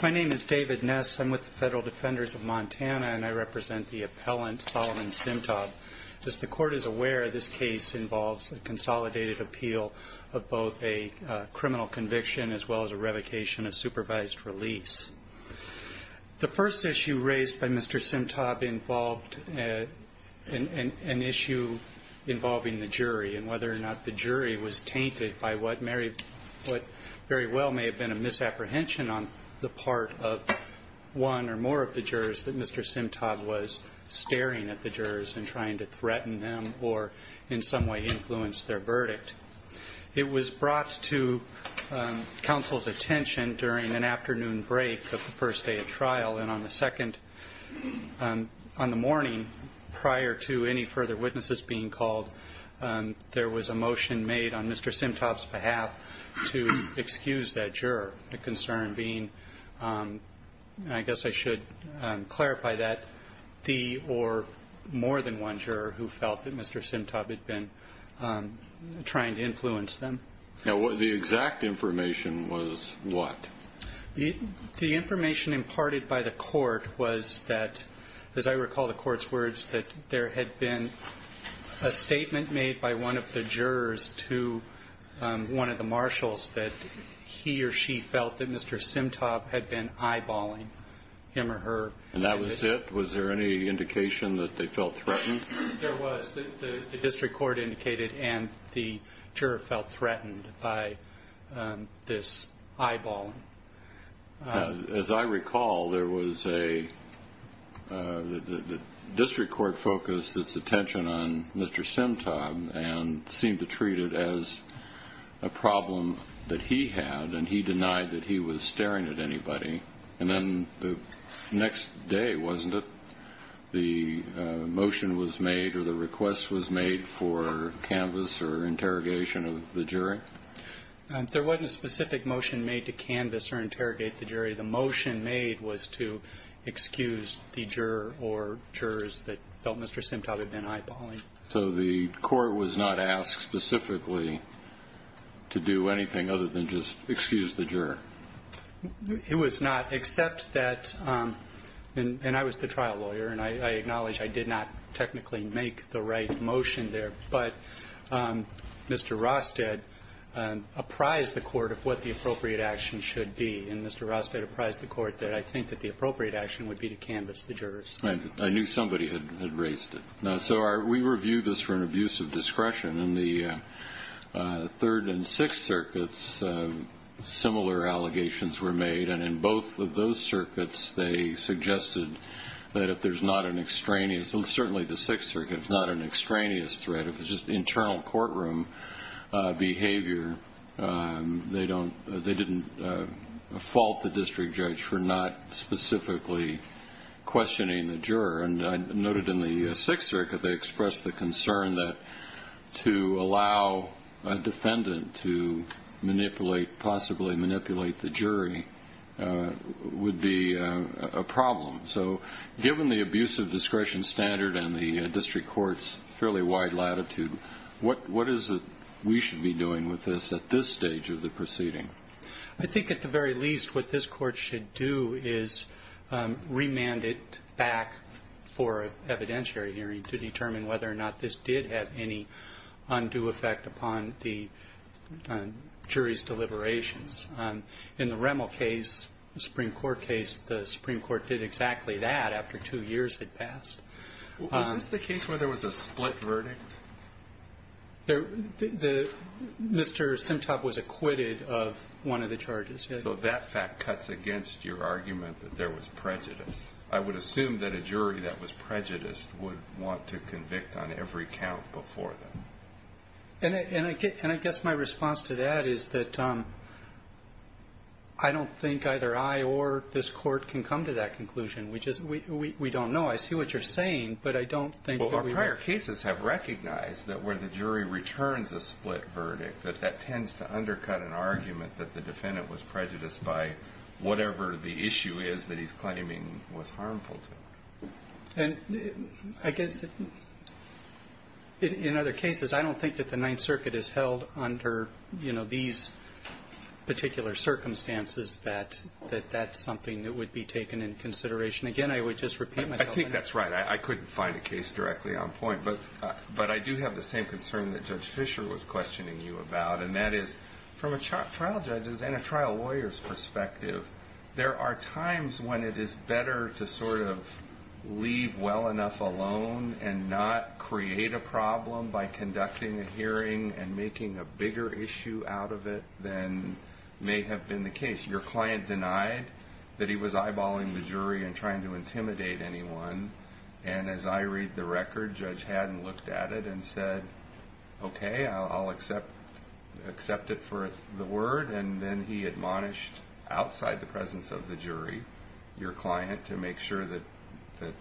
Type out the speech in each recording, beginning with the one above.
My name is David Ness, I'm with the Federal Defenders of Montana and I represent the appellant Solomon Simtob. As the Court is aware, this case involves a consolidated appeal of both a criminal conviction as well as a revocation of supervised release. The first issue raised by Mr. Simtob involved an issue involving the jury and whether or not the jury was tainted by what very well may have been a misapprehension on the part of one or more of the jurors that Mr. Simtob was staring at the jurors and trying to threaten them or in some way influence their verdict. It was brought to counsel's attention during an afternoon break of the first day of trial and on the second, on the morning prior to any further witnesses being to excuse that juror. The concern being, I guess I should clarify that, the or more than one juror who felt that Mr. Simtob had been trying to influence them. Now the exact information was what? The information imparted by the Court was that, as I recall the Court's words, that there had been a statement made by one of the jurors to one of the marshals that he or she felt that Mr. Simtob had been eyeballing him or her. And that was it? Was there any indication that they felt threatened? There was. The district court indicated and the juror felt threatened by this eyeballing. As I recall, there was a, the district court focused its attention on Mr. Simtob and seemed to treat it as a problem that he had and he denied that he was staring at anybody. And then the next day, wasn't it, the motion was made or the request was made for canvas or interrogation of the jury? There wasn't a specific motion made to canvas or interrogate the jury. The motion made was to excuse the juror or jurors that felt Mr. Simtob had been eyeballing. So the Court was not asked specifically to do anything other than just excuse the juror? It was not, except that, and I was the trial lawyer, and I acknowledge I did not technically make the right motion there. But Mr. Rosted apprised the Court of what the appropriate action should be. And Mr. Rosted apprised the Court that I think that the appropriate action would be to canvas the jurors. I knew somebody had raised it. So we review this for an abuse of discretion. In the Third and Sixth Circuits, similar allegations were made. And in both of those circuits, they suggested that if there's not an extraneous certainly the Sixth Circuit, if it's not an extraneous threat, if it's just internal courtroom behavior, they didn't fault the district judge for not specifically questioning the juror. And I noted in the Sixth Circuit they expressed the concern that to allow a defendant to manipulate, possibly manipulate the jury, would be a problem. So given the abuse of discretion standard and the district court's fairly wide latitude, what is it we should be doing with this at this stage of the proceeding? I think at the very least what this Court should do is remand it back for an evidentiary hearing to determine whether or not this did have any undue effect upon the jury's deliberations. In the Remel case, the Supreme Court case, the Supreme Court did exactly that after two years had passed. Was this the case where there was a split verdict? Mr. Simtop was acquitted of one of the charges, yes. So that fact cuts against your argument that there was prejudice. I would assume that a jury that was prejudiced would want to convict on every count before that. And I guess my response to that is that I don't think either I or this Court can come to that conclusion. We just don't know. I see what you're saying, but I don't think that we would. Well, our prior cases have recognized that where the jury returns a split verdict, that that tends to undercut an argument that the defendant was prejudiced by whatever the issue is that he's claiming was harmful to. And I guess in other cases, I don't think that the Ninth Circuit has held under, you know, these particular circumstances that that's something that would be taken in consideration. Again, I would just repeat myself. I think that's right. I couldn't find a case directly on point. But I do have the same concern that Judge Fischer was questioning you about, there are times when it is better to sort of leave well enough alone and not create a problem by conducting a hearing and making a bigger issue out of it than may have been the case. Your client denied that he was eyeballing the jury and trying to intimidate anyone. And as I read the record, Judge Haddon looked at it and said, Okay, I'll accept it for the word. And then he admonished outside the presence of the jury, your client, to make sure that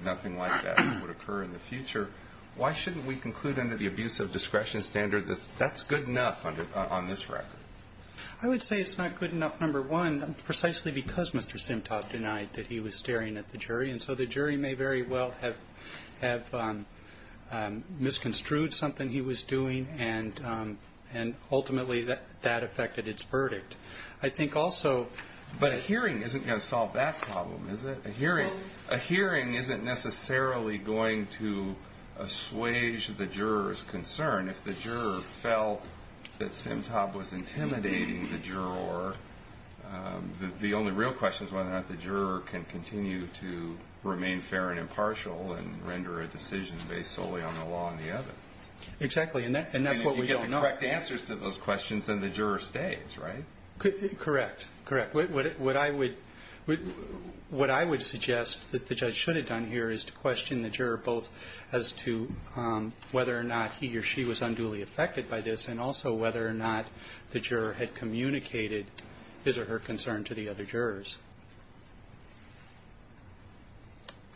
nothing like that would occur in the future. Why shouldn't we conclude under the abuse of discretion standard that that's good enough on this record? I would say it's not good enough, number one, precisely because Mr. Simtot denied that he was staring at the jury. And so the jury may very well have misconstrued something he was doing, and ultimately that affected its verdict. I think also, but a hearing isn't going to solve that problem, is it? A hearing isn't necessarily going to assuage the juror's concern. If the juror felt that Simtot was intimidating the juror, the only real question is whether or not the juror can continue to remain fair and impartial and render a decision based solely on the law and the evidence. Exactly, and that's what we don't know. And if you get the correct answers to those questions, then the juror stays, right? Correct, correct. What I would suggest that the judge should have done here is to question the juror, both as to whether or not he or she was unduly affected by this, and also whether or not the juror had communicated his or her concern to the other jurors.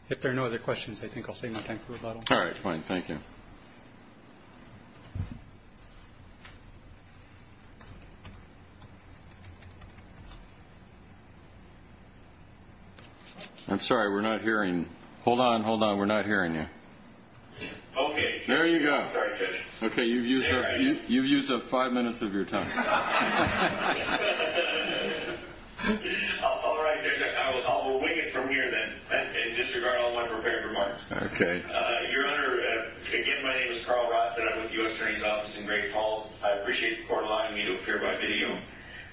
If there are no other questions, I think I'll save my time for rebuttal. All right, fine. Thank you. I'm sorry, we're not hearing. Hold on, hold on. We're not hearing you. Okay. There you go. I'm sorry, Judge. Okay, you've used up five minutes of your time. All right, I will wing it from here, then, and disregard all my prepared remarks. Okay. Your Honor, again, my name is Carl Ross, and I'm with the U.S. Attorney's Office in Great Falls. I appreciate the court allowing me to appear by video.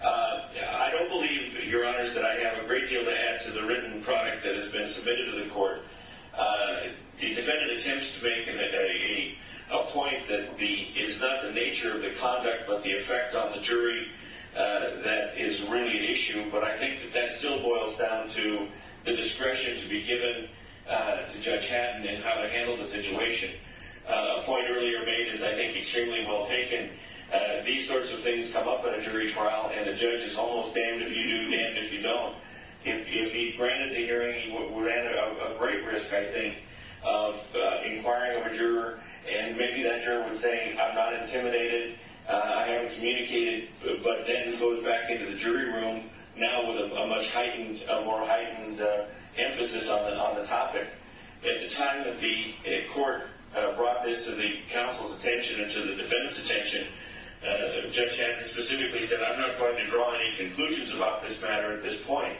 I don't believe, Your Honors, that I have a great deal to add to the written product that has been submitted to the court. The defendant attempts to make a point that is not the nature of the conduct but the effect on the jury. That is really an issue, but I think that that still boils down to the discretion to be given to Judge Haddon in how to handle the situation. A point earlier made is, I think, extremely well taken. These sorts of things come up in a jury trial, and the judge is almost damned if you do, damned if you don't. If he granted the hearing, he would have a great risk, I think, of inquiring of a juror, and maybe that juror would say, I'm not intimidated, I haven't communicated, but then goes back into the jury room now with a much heightened, a more heightened emphasis on the topic. At the time that the court brought this to the counsel's attention and to the defendant's attention, Judge Haddon specifically said, I'm not going to draw any conclusions about this matter at this point.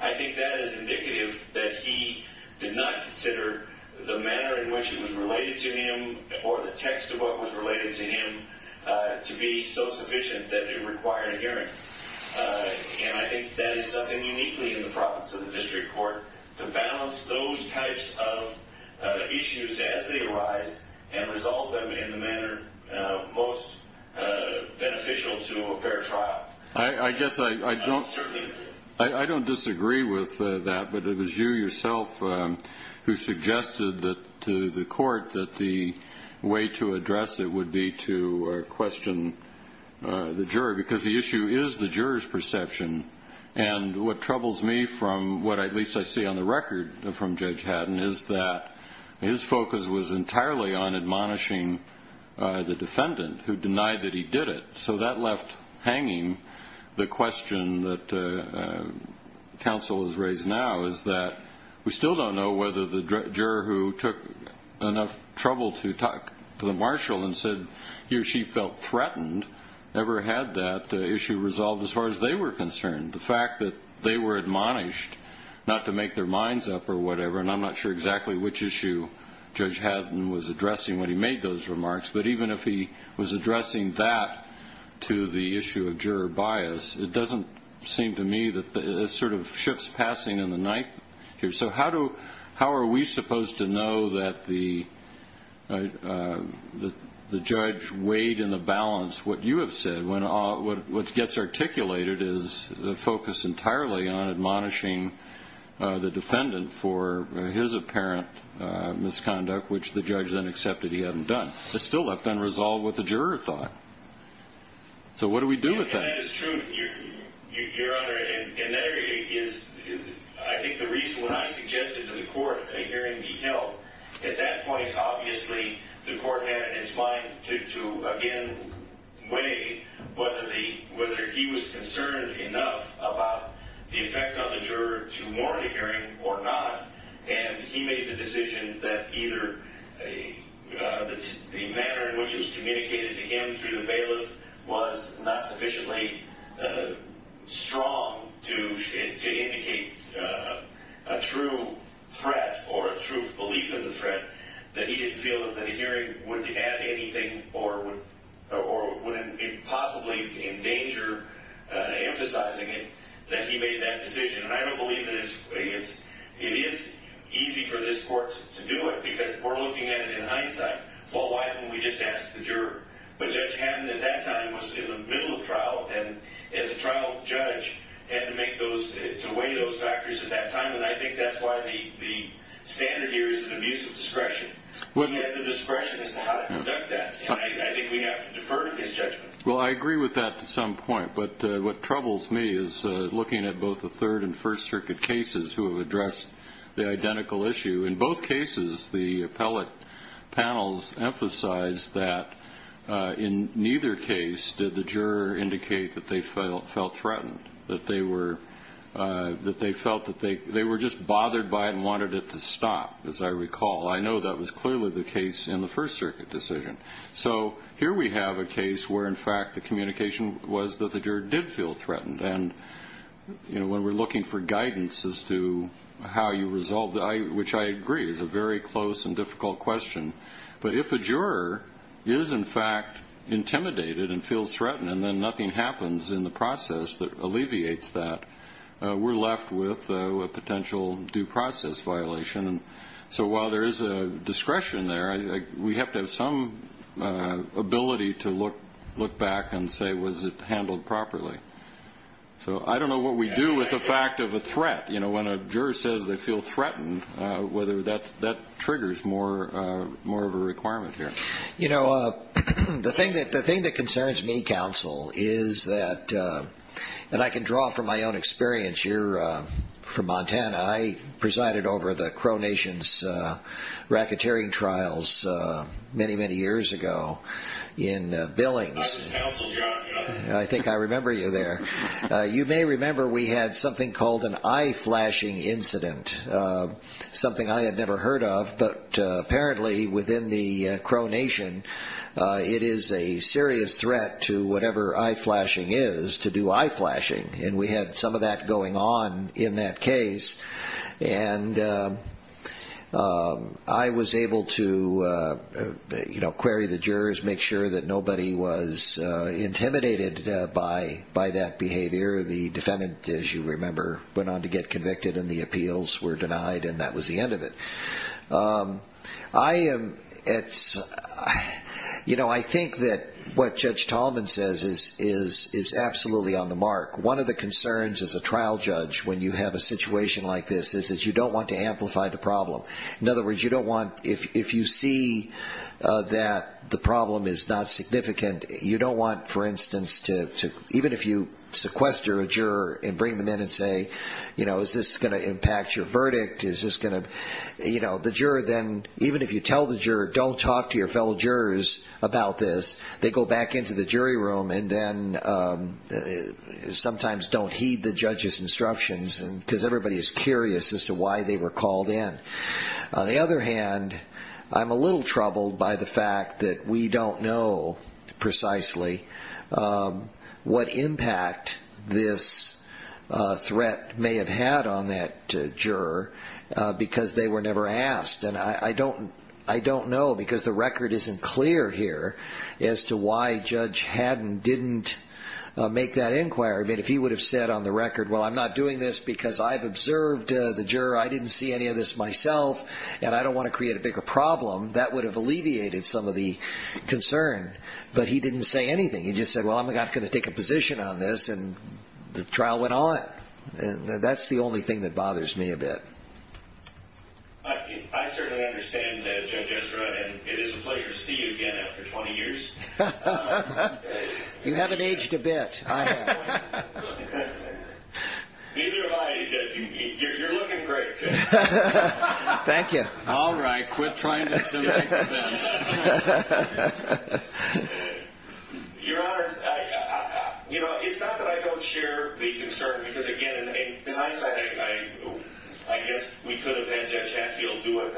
I think that is indicative that he did not consider the manner in which it was related to him or the text of what was related to him to be so sufficient that it required a hearing. And I think that is something uniquely in the province of the district court, to balance those types of issues as they arise and resolve them in the manner most beneficial to a fair trial. I guess I don't disagree with that, but it was you yourself who suggested to the court that the way to address it would be to question the jury, because the issue is the juror's perception. And what troubles me from what at least I see on the record from Judge Haddon is that his focus was entirely on admonishing the defendant who denied that he did it. So that left hanging the question that counsel has raised now, is that we still don't know whether the juror who took enough trouble to talk to the marshal and said he or she felt threatened ever had that issue resolved as far as they were concerned. The fact that they were admonished not to make their minds up or whatever, and I'm not sure exactly which issue Judge Haddon was addressing when he made those remarks, but even if he was addressing that to the issue of juror bias, it doesn't seem to me that it sort of shifts passing in the night. So how are we supposed to know that the judge weighed in the balance what you have said when what gets articulated is the focus entirely on admonishing the defendant for his apparent misconduct, which the judge then accepted he hadn't done. It's still left unresolved what the juror thought. So what do we do with that? Well, that is true, Your Honor. And that is, I think, the reason when I suggested to the court that a hearing be held, at that point, obviously, the court had in its mind to, again, weigh whether he was concerned enough about the effect on the juror to mourn a hearing or not. And he made the decision that either the manner in which it was communicated to him through the bailiff was not sufficiently strong to indicate a true threat or a true belief in the threat, that he didn't feel that a hearing would add anything or would possibly endanger emphasizing it, that he made that decision. And I don't believe that it is easy for this court to do it because we're looking at it in hindsight. Well, why don't we just ask the juror? But Judge Hammond, at that time, was in the middle of trial, and as a trial judge had to weigh those factors at that time, and I think that's why the standard here is an abuse of discretion. He has the discretion as to how to conduct that, and I think we have to defer to his judgment. Well, I agree with that to some point, but what troubles me is looking at both the Third and First Circuit cases who have addressed the identical issue. In both cases, the appellate panels emphasized that in neither case did the juror indicate that they felt threatened, that they felt that they were just bothered by it and wanted it to stop, as I recall. I know that was clearly the case in the First Circuit decision. So here we have a case where, in fact, the communication was that the juror did feel threatened. And when we're looking for guidance as to how you resolve that, which I agree is a very close and difficult question, but if a juror is, in fact, intimidated and feels threatened and then nothing happens in the process that alleviates that, we're left with a potential due process violation. So while there is a discretion there, we have to have some ability to look back and say, was it handled properly? So I don't know what we do with the fact of a threat. You know, when a juror says they feel threatened, whether that triggers more of a requirement here. You know, the thing that concerns me, counsel, is that I can draw from my own experience here from Montana. I presided over the Crow Nation's racketeering trials many, many years ago in Billings. I think I remember you there. You may remember we had something called an eye flashing incident, something I had never heard of. But apparently within the Crow Nation, it is a serious threat to whatever eye flashing is to do eye flashing. And we had some of that going on in that case. And I was able to, you know, query the jurors, make sure that nobody was intimidated by that behavior. The defendant, as you remember, went on to get convicted and the appeals were denied and that was the end of it. I am at, you know, I think that what Judge Tallman says is absolutely on the mark. One of the concerns as a trial judge when you have a situation like this is that you don't want to amplify the problem. In other words, you don't want, if you see that the problem is not significant, you don't want, for instance, even if you sequester a juror and bring them in and say, you know, is this going to impact your verdict? Is this going to, you know, the juror then, even if you tell the juror, don't talk to your fellow jurors about this, they go back into the jury room and then sometimes don't heed the judge's instructions because everybody is curious as to why they were called in. On the other hand, I'm a little troubled by the fact that we don't know precisely what impact this threat may have had on that juror. Because they were never asked. And I don't know because the record isn't clear here as to why Judge Haddon didn't make that inquiry. I mean, if he would have said on the record, well, I'm not doing this because I've observed the juror, I didn't see any of this myself, and I don't want to create a bigger problem, that would have alleviated some of the concern. But he didn't say anything. He just said, well, I'm not going to take a position on this, and the trial went on. That's the only thing that bothers me a bit. I certainly understand, Judge Ezra, and it is a pleasure to see you again after 20 years. You haven't aged a bit, I have. Neither have I, Judge. You're looking great, Judge. Thank you. All right. Quit trying to say that. Your Honor, it's not that I don't share the concern because, again, in hindsight, I guess we could have had Judge Hadfield do it.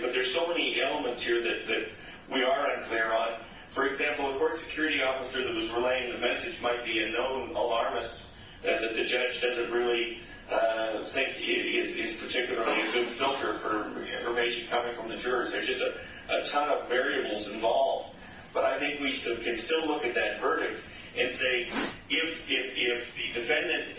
But there's so many elements here that we are unclear on. For example, a court security officer that was relaying the message might be a known alarmist, that the judge doesn't really think is particularly a good filter for information coming from the jurors. There's just a ton of variables involved. But I think we can still look at that verdict and say, if the defendant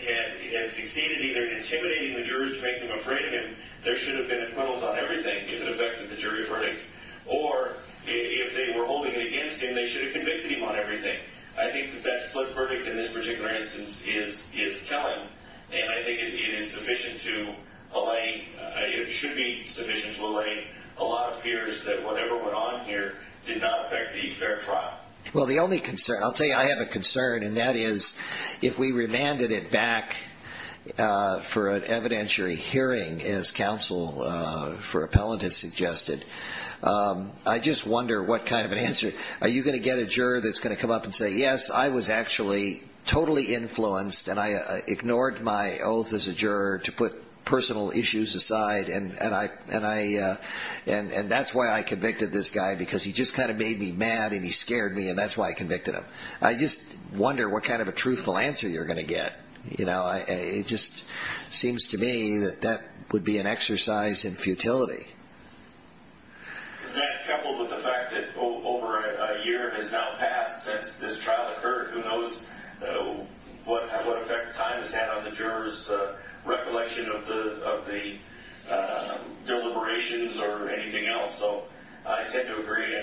has succeeded either in intimidating the jurors to make them afraid of him, there should have been acquittals on everything if it affected the jury verdict. Or if they were holding it against him, they should have convicted him on everything. I think the best-flipped verdict in this particular instance is telling. And I think it is sufficient to allay, it should be sufficient to allay a lot of fears that whatever went on here did not affect the fair trial. Well, the only concern, I'll tell you I have a concern, and that is if we remanded it back for an evidentiary hearing, as counsel for appellant has suggested, I just wonder what kind of an answer, are you going to get a juror that's going to come up and say, yes, I was actually totally influenced and I ignored my oath as a juror to put personal issues aside and that's why I convicted this guy, because he just kind of made me mad and he scared me and that's why I convicted him. I just wonder what kind of a truthful answer you're going to get. It just seems to me that that would be an exercise in futility. Coupled with the fact that over a year has now passed since this trial occurred, who knows what effect time has had on the juror's recollection of the deliberations or anything else. So I tend to agree.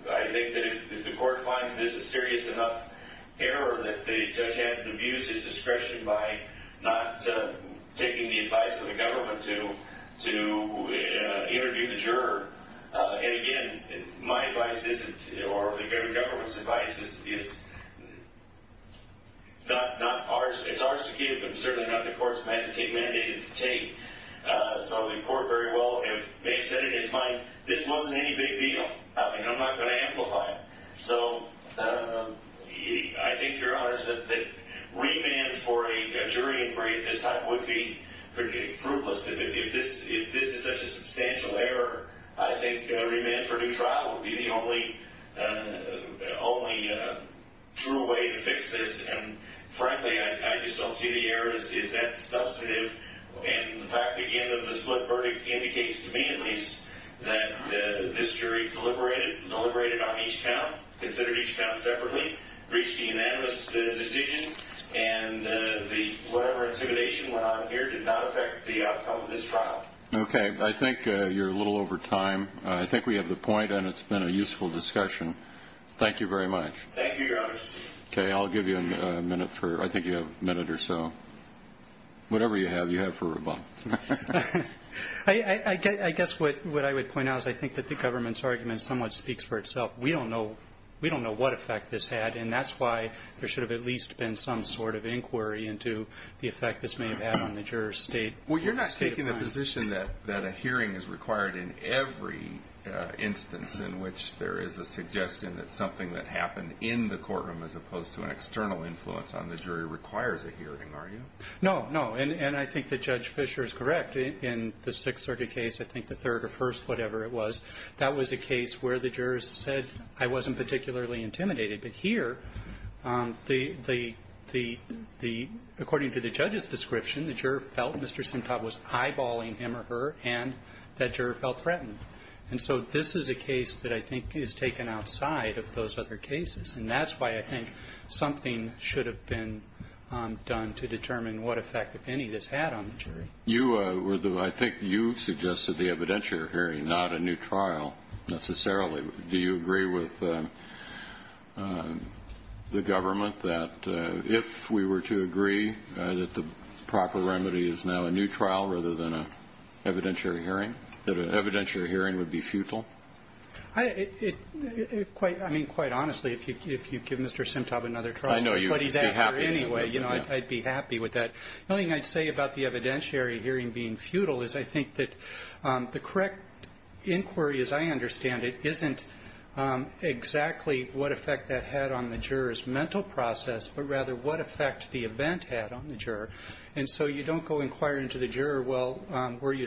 I think that if the court finds this a serious enough error that the judge had to abuse his discretion by not taking the advice of the government to interview the juror, and again, my advice isn't, or the government's advice is not ours, it's ours to give, but certainly not the court's mandate to take. So the court very well may have said in his mind, this wasn't any big deal and I'm not going to amplify it. So I think, Your Honor, that remand for a jury inquiry at this time would be fruitless. If this is such a substantial error, I think remand for due trial would be the only true way to fix this. And frankly, I just don't see the error. Is that substantive? And the fact, again, of the split verdict indicates to me at least that this jury deliberated on each count, considered each count separately, reached a unanimous decision, and whatever intimidation went on here did not affect the outcome of this trial. Okay. I think you're a little over time. I think we have the point and it's been a useful discussion. Thank you very much. Thank you, Your Honor. Okay. I'll give you a minute. I think you have a minute or so. Whatever you have, you have for rebuttal. I guess what I would point out is I think that the government's argument somewhat speaks for itself. We don't know what effect this had, and that's why there should have at least been some sort of inquiry into the effect this may have had on the juror's state. Well, you're not taking the position that a hearing is required in every instance in which there is a suggestion that something that happened in the courtroom as opposed to an external influence on the jury requires a hearing, are you? No, no. And I think that Judge Fischer is correct. In the 630 case, I think the third or first, whatever it was, that was a case where the jurors said, I wasn't particularly intimidated. But here, according to the judge's description, the juror felt Mr. Simtot was eyeballing him or her, and that juror felt threatened. And so this is a case that I think is taken outside of those other cases, and that's why I think something should have been done to determine what effect, if any, this had on the jury. I think you suggested the evidentiary hearing, not a new trial necessarily. Do you agree with the government that if we were to agree that the proper remedy is now a new trial rather than an evidentiary hearing, that an evidentiary hearing would be futile? I mean, quite honestly, if you give Mr. Simtot another trial, he's out here anyway. I'd be happy with that. The only thing I'd say about the evidentiary hearing being futile is I think that the correct inquiry, as I understand it, isn't exactly what effect that had on the juror's mental process, but rather what effect the event had on the juror. And so you don't go inquiring to the juror, well, were you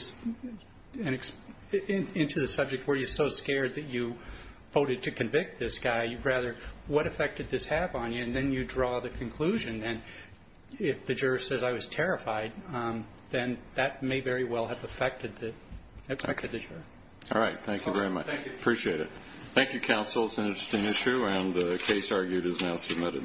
into the subject, were you so scared that you voted to convict this guy? You'd rather, what effect did this have on you? And then you draw the conclusion. And if the juror says, I was terrified, then that may very well have affected the juror. All right. Thank you very much. Appreciate it. Thank you, counsel. It's an interesting issue, and the case argued is now submitted.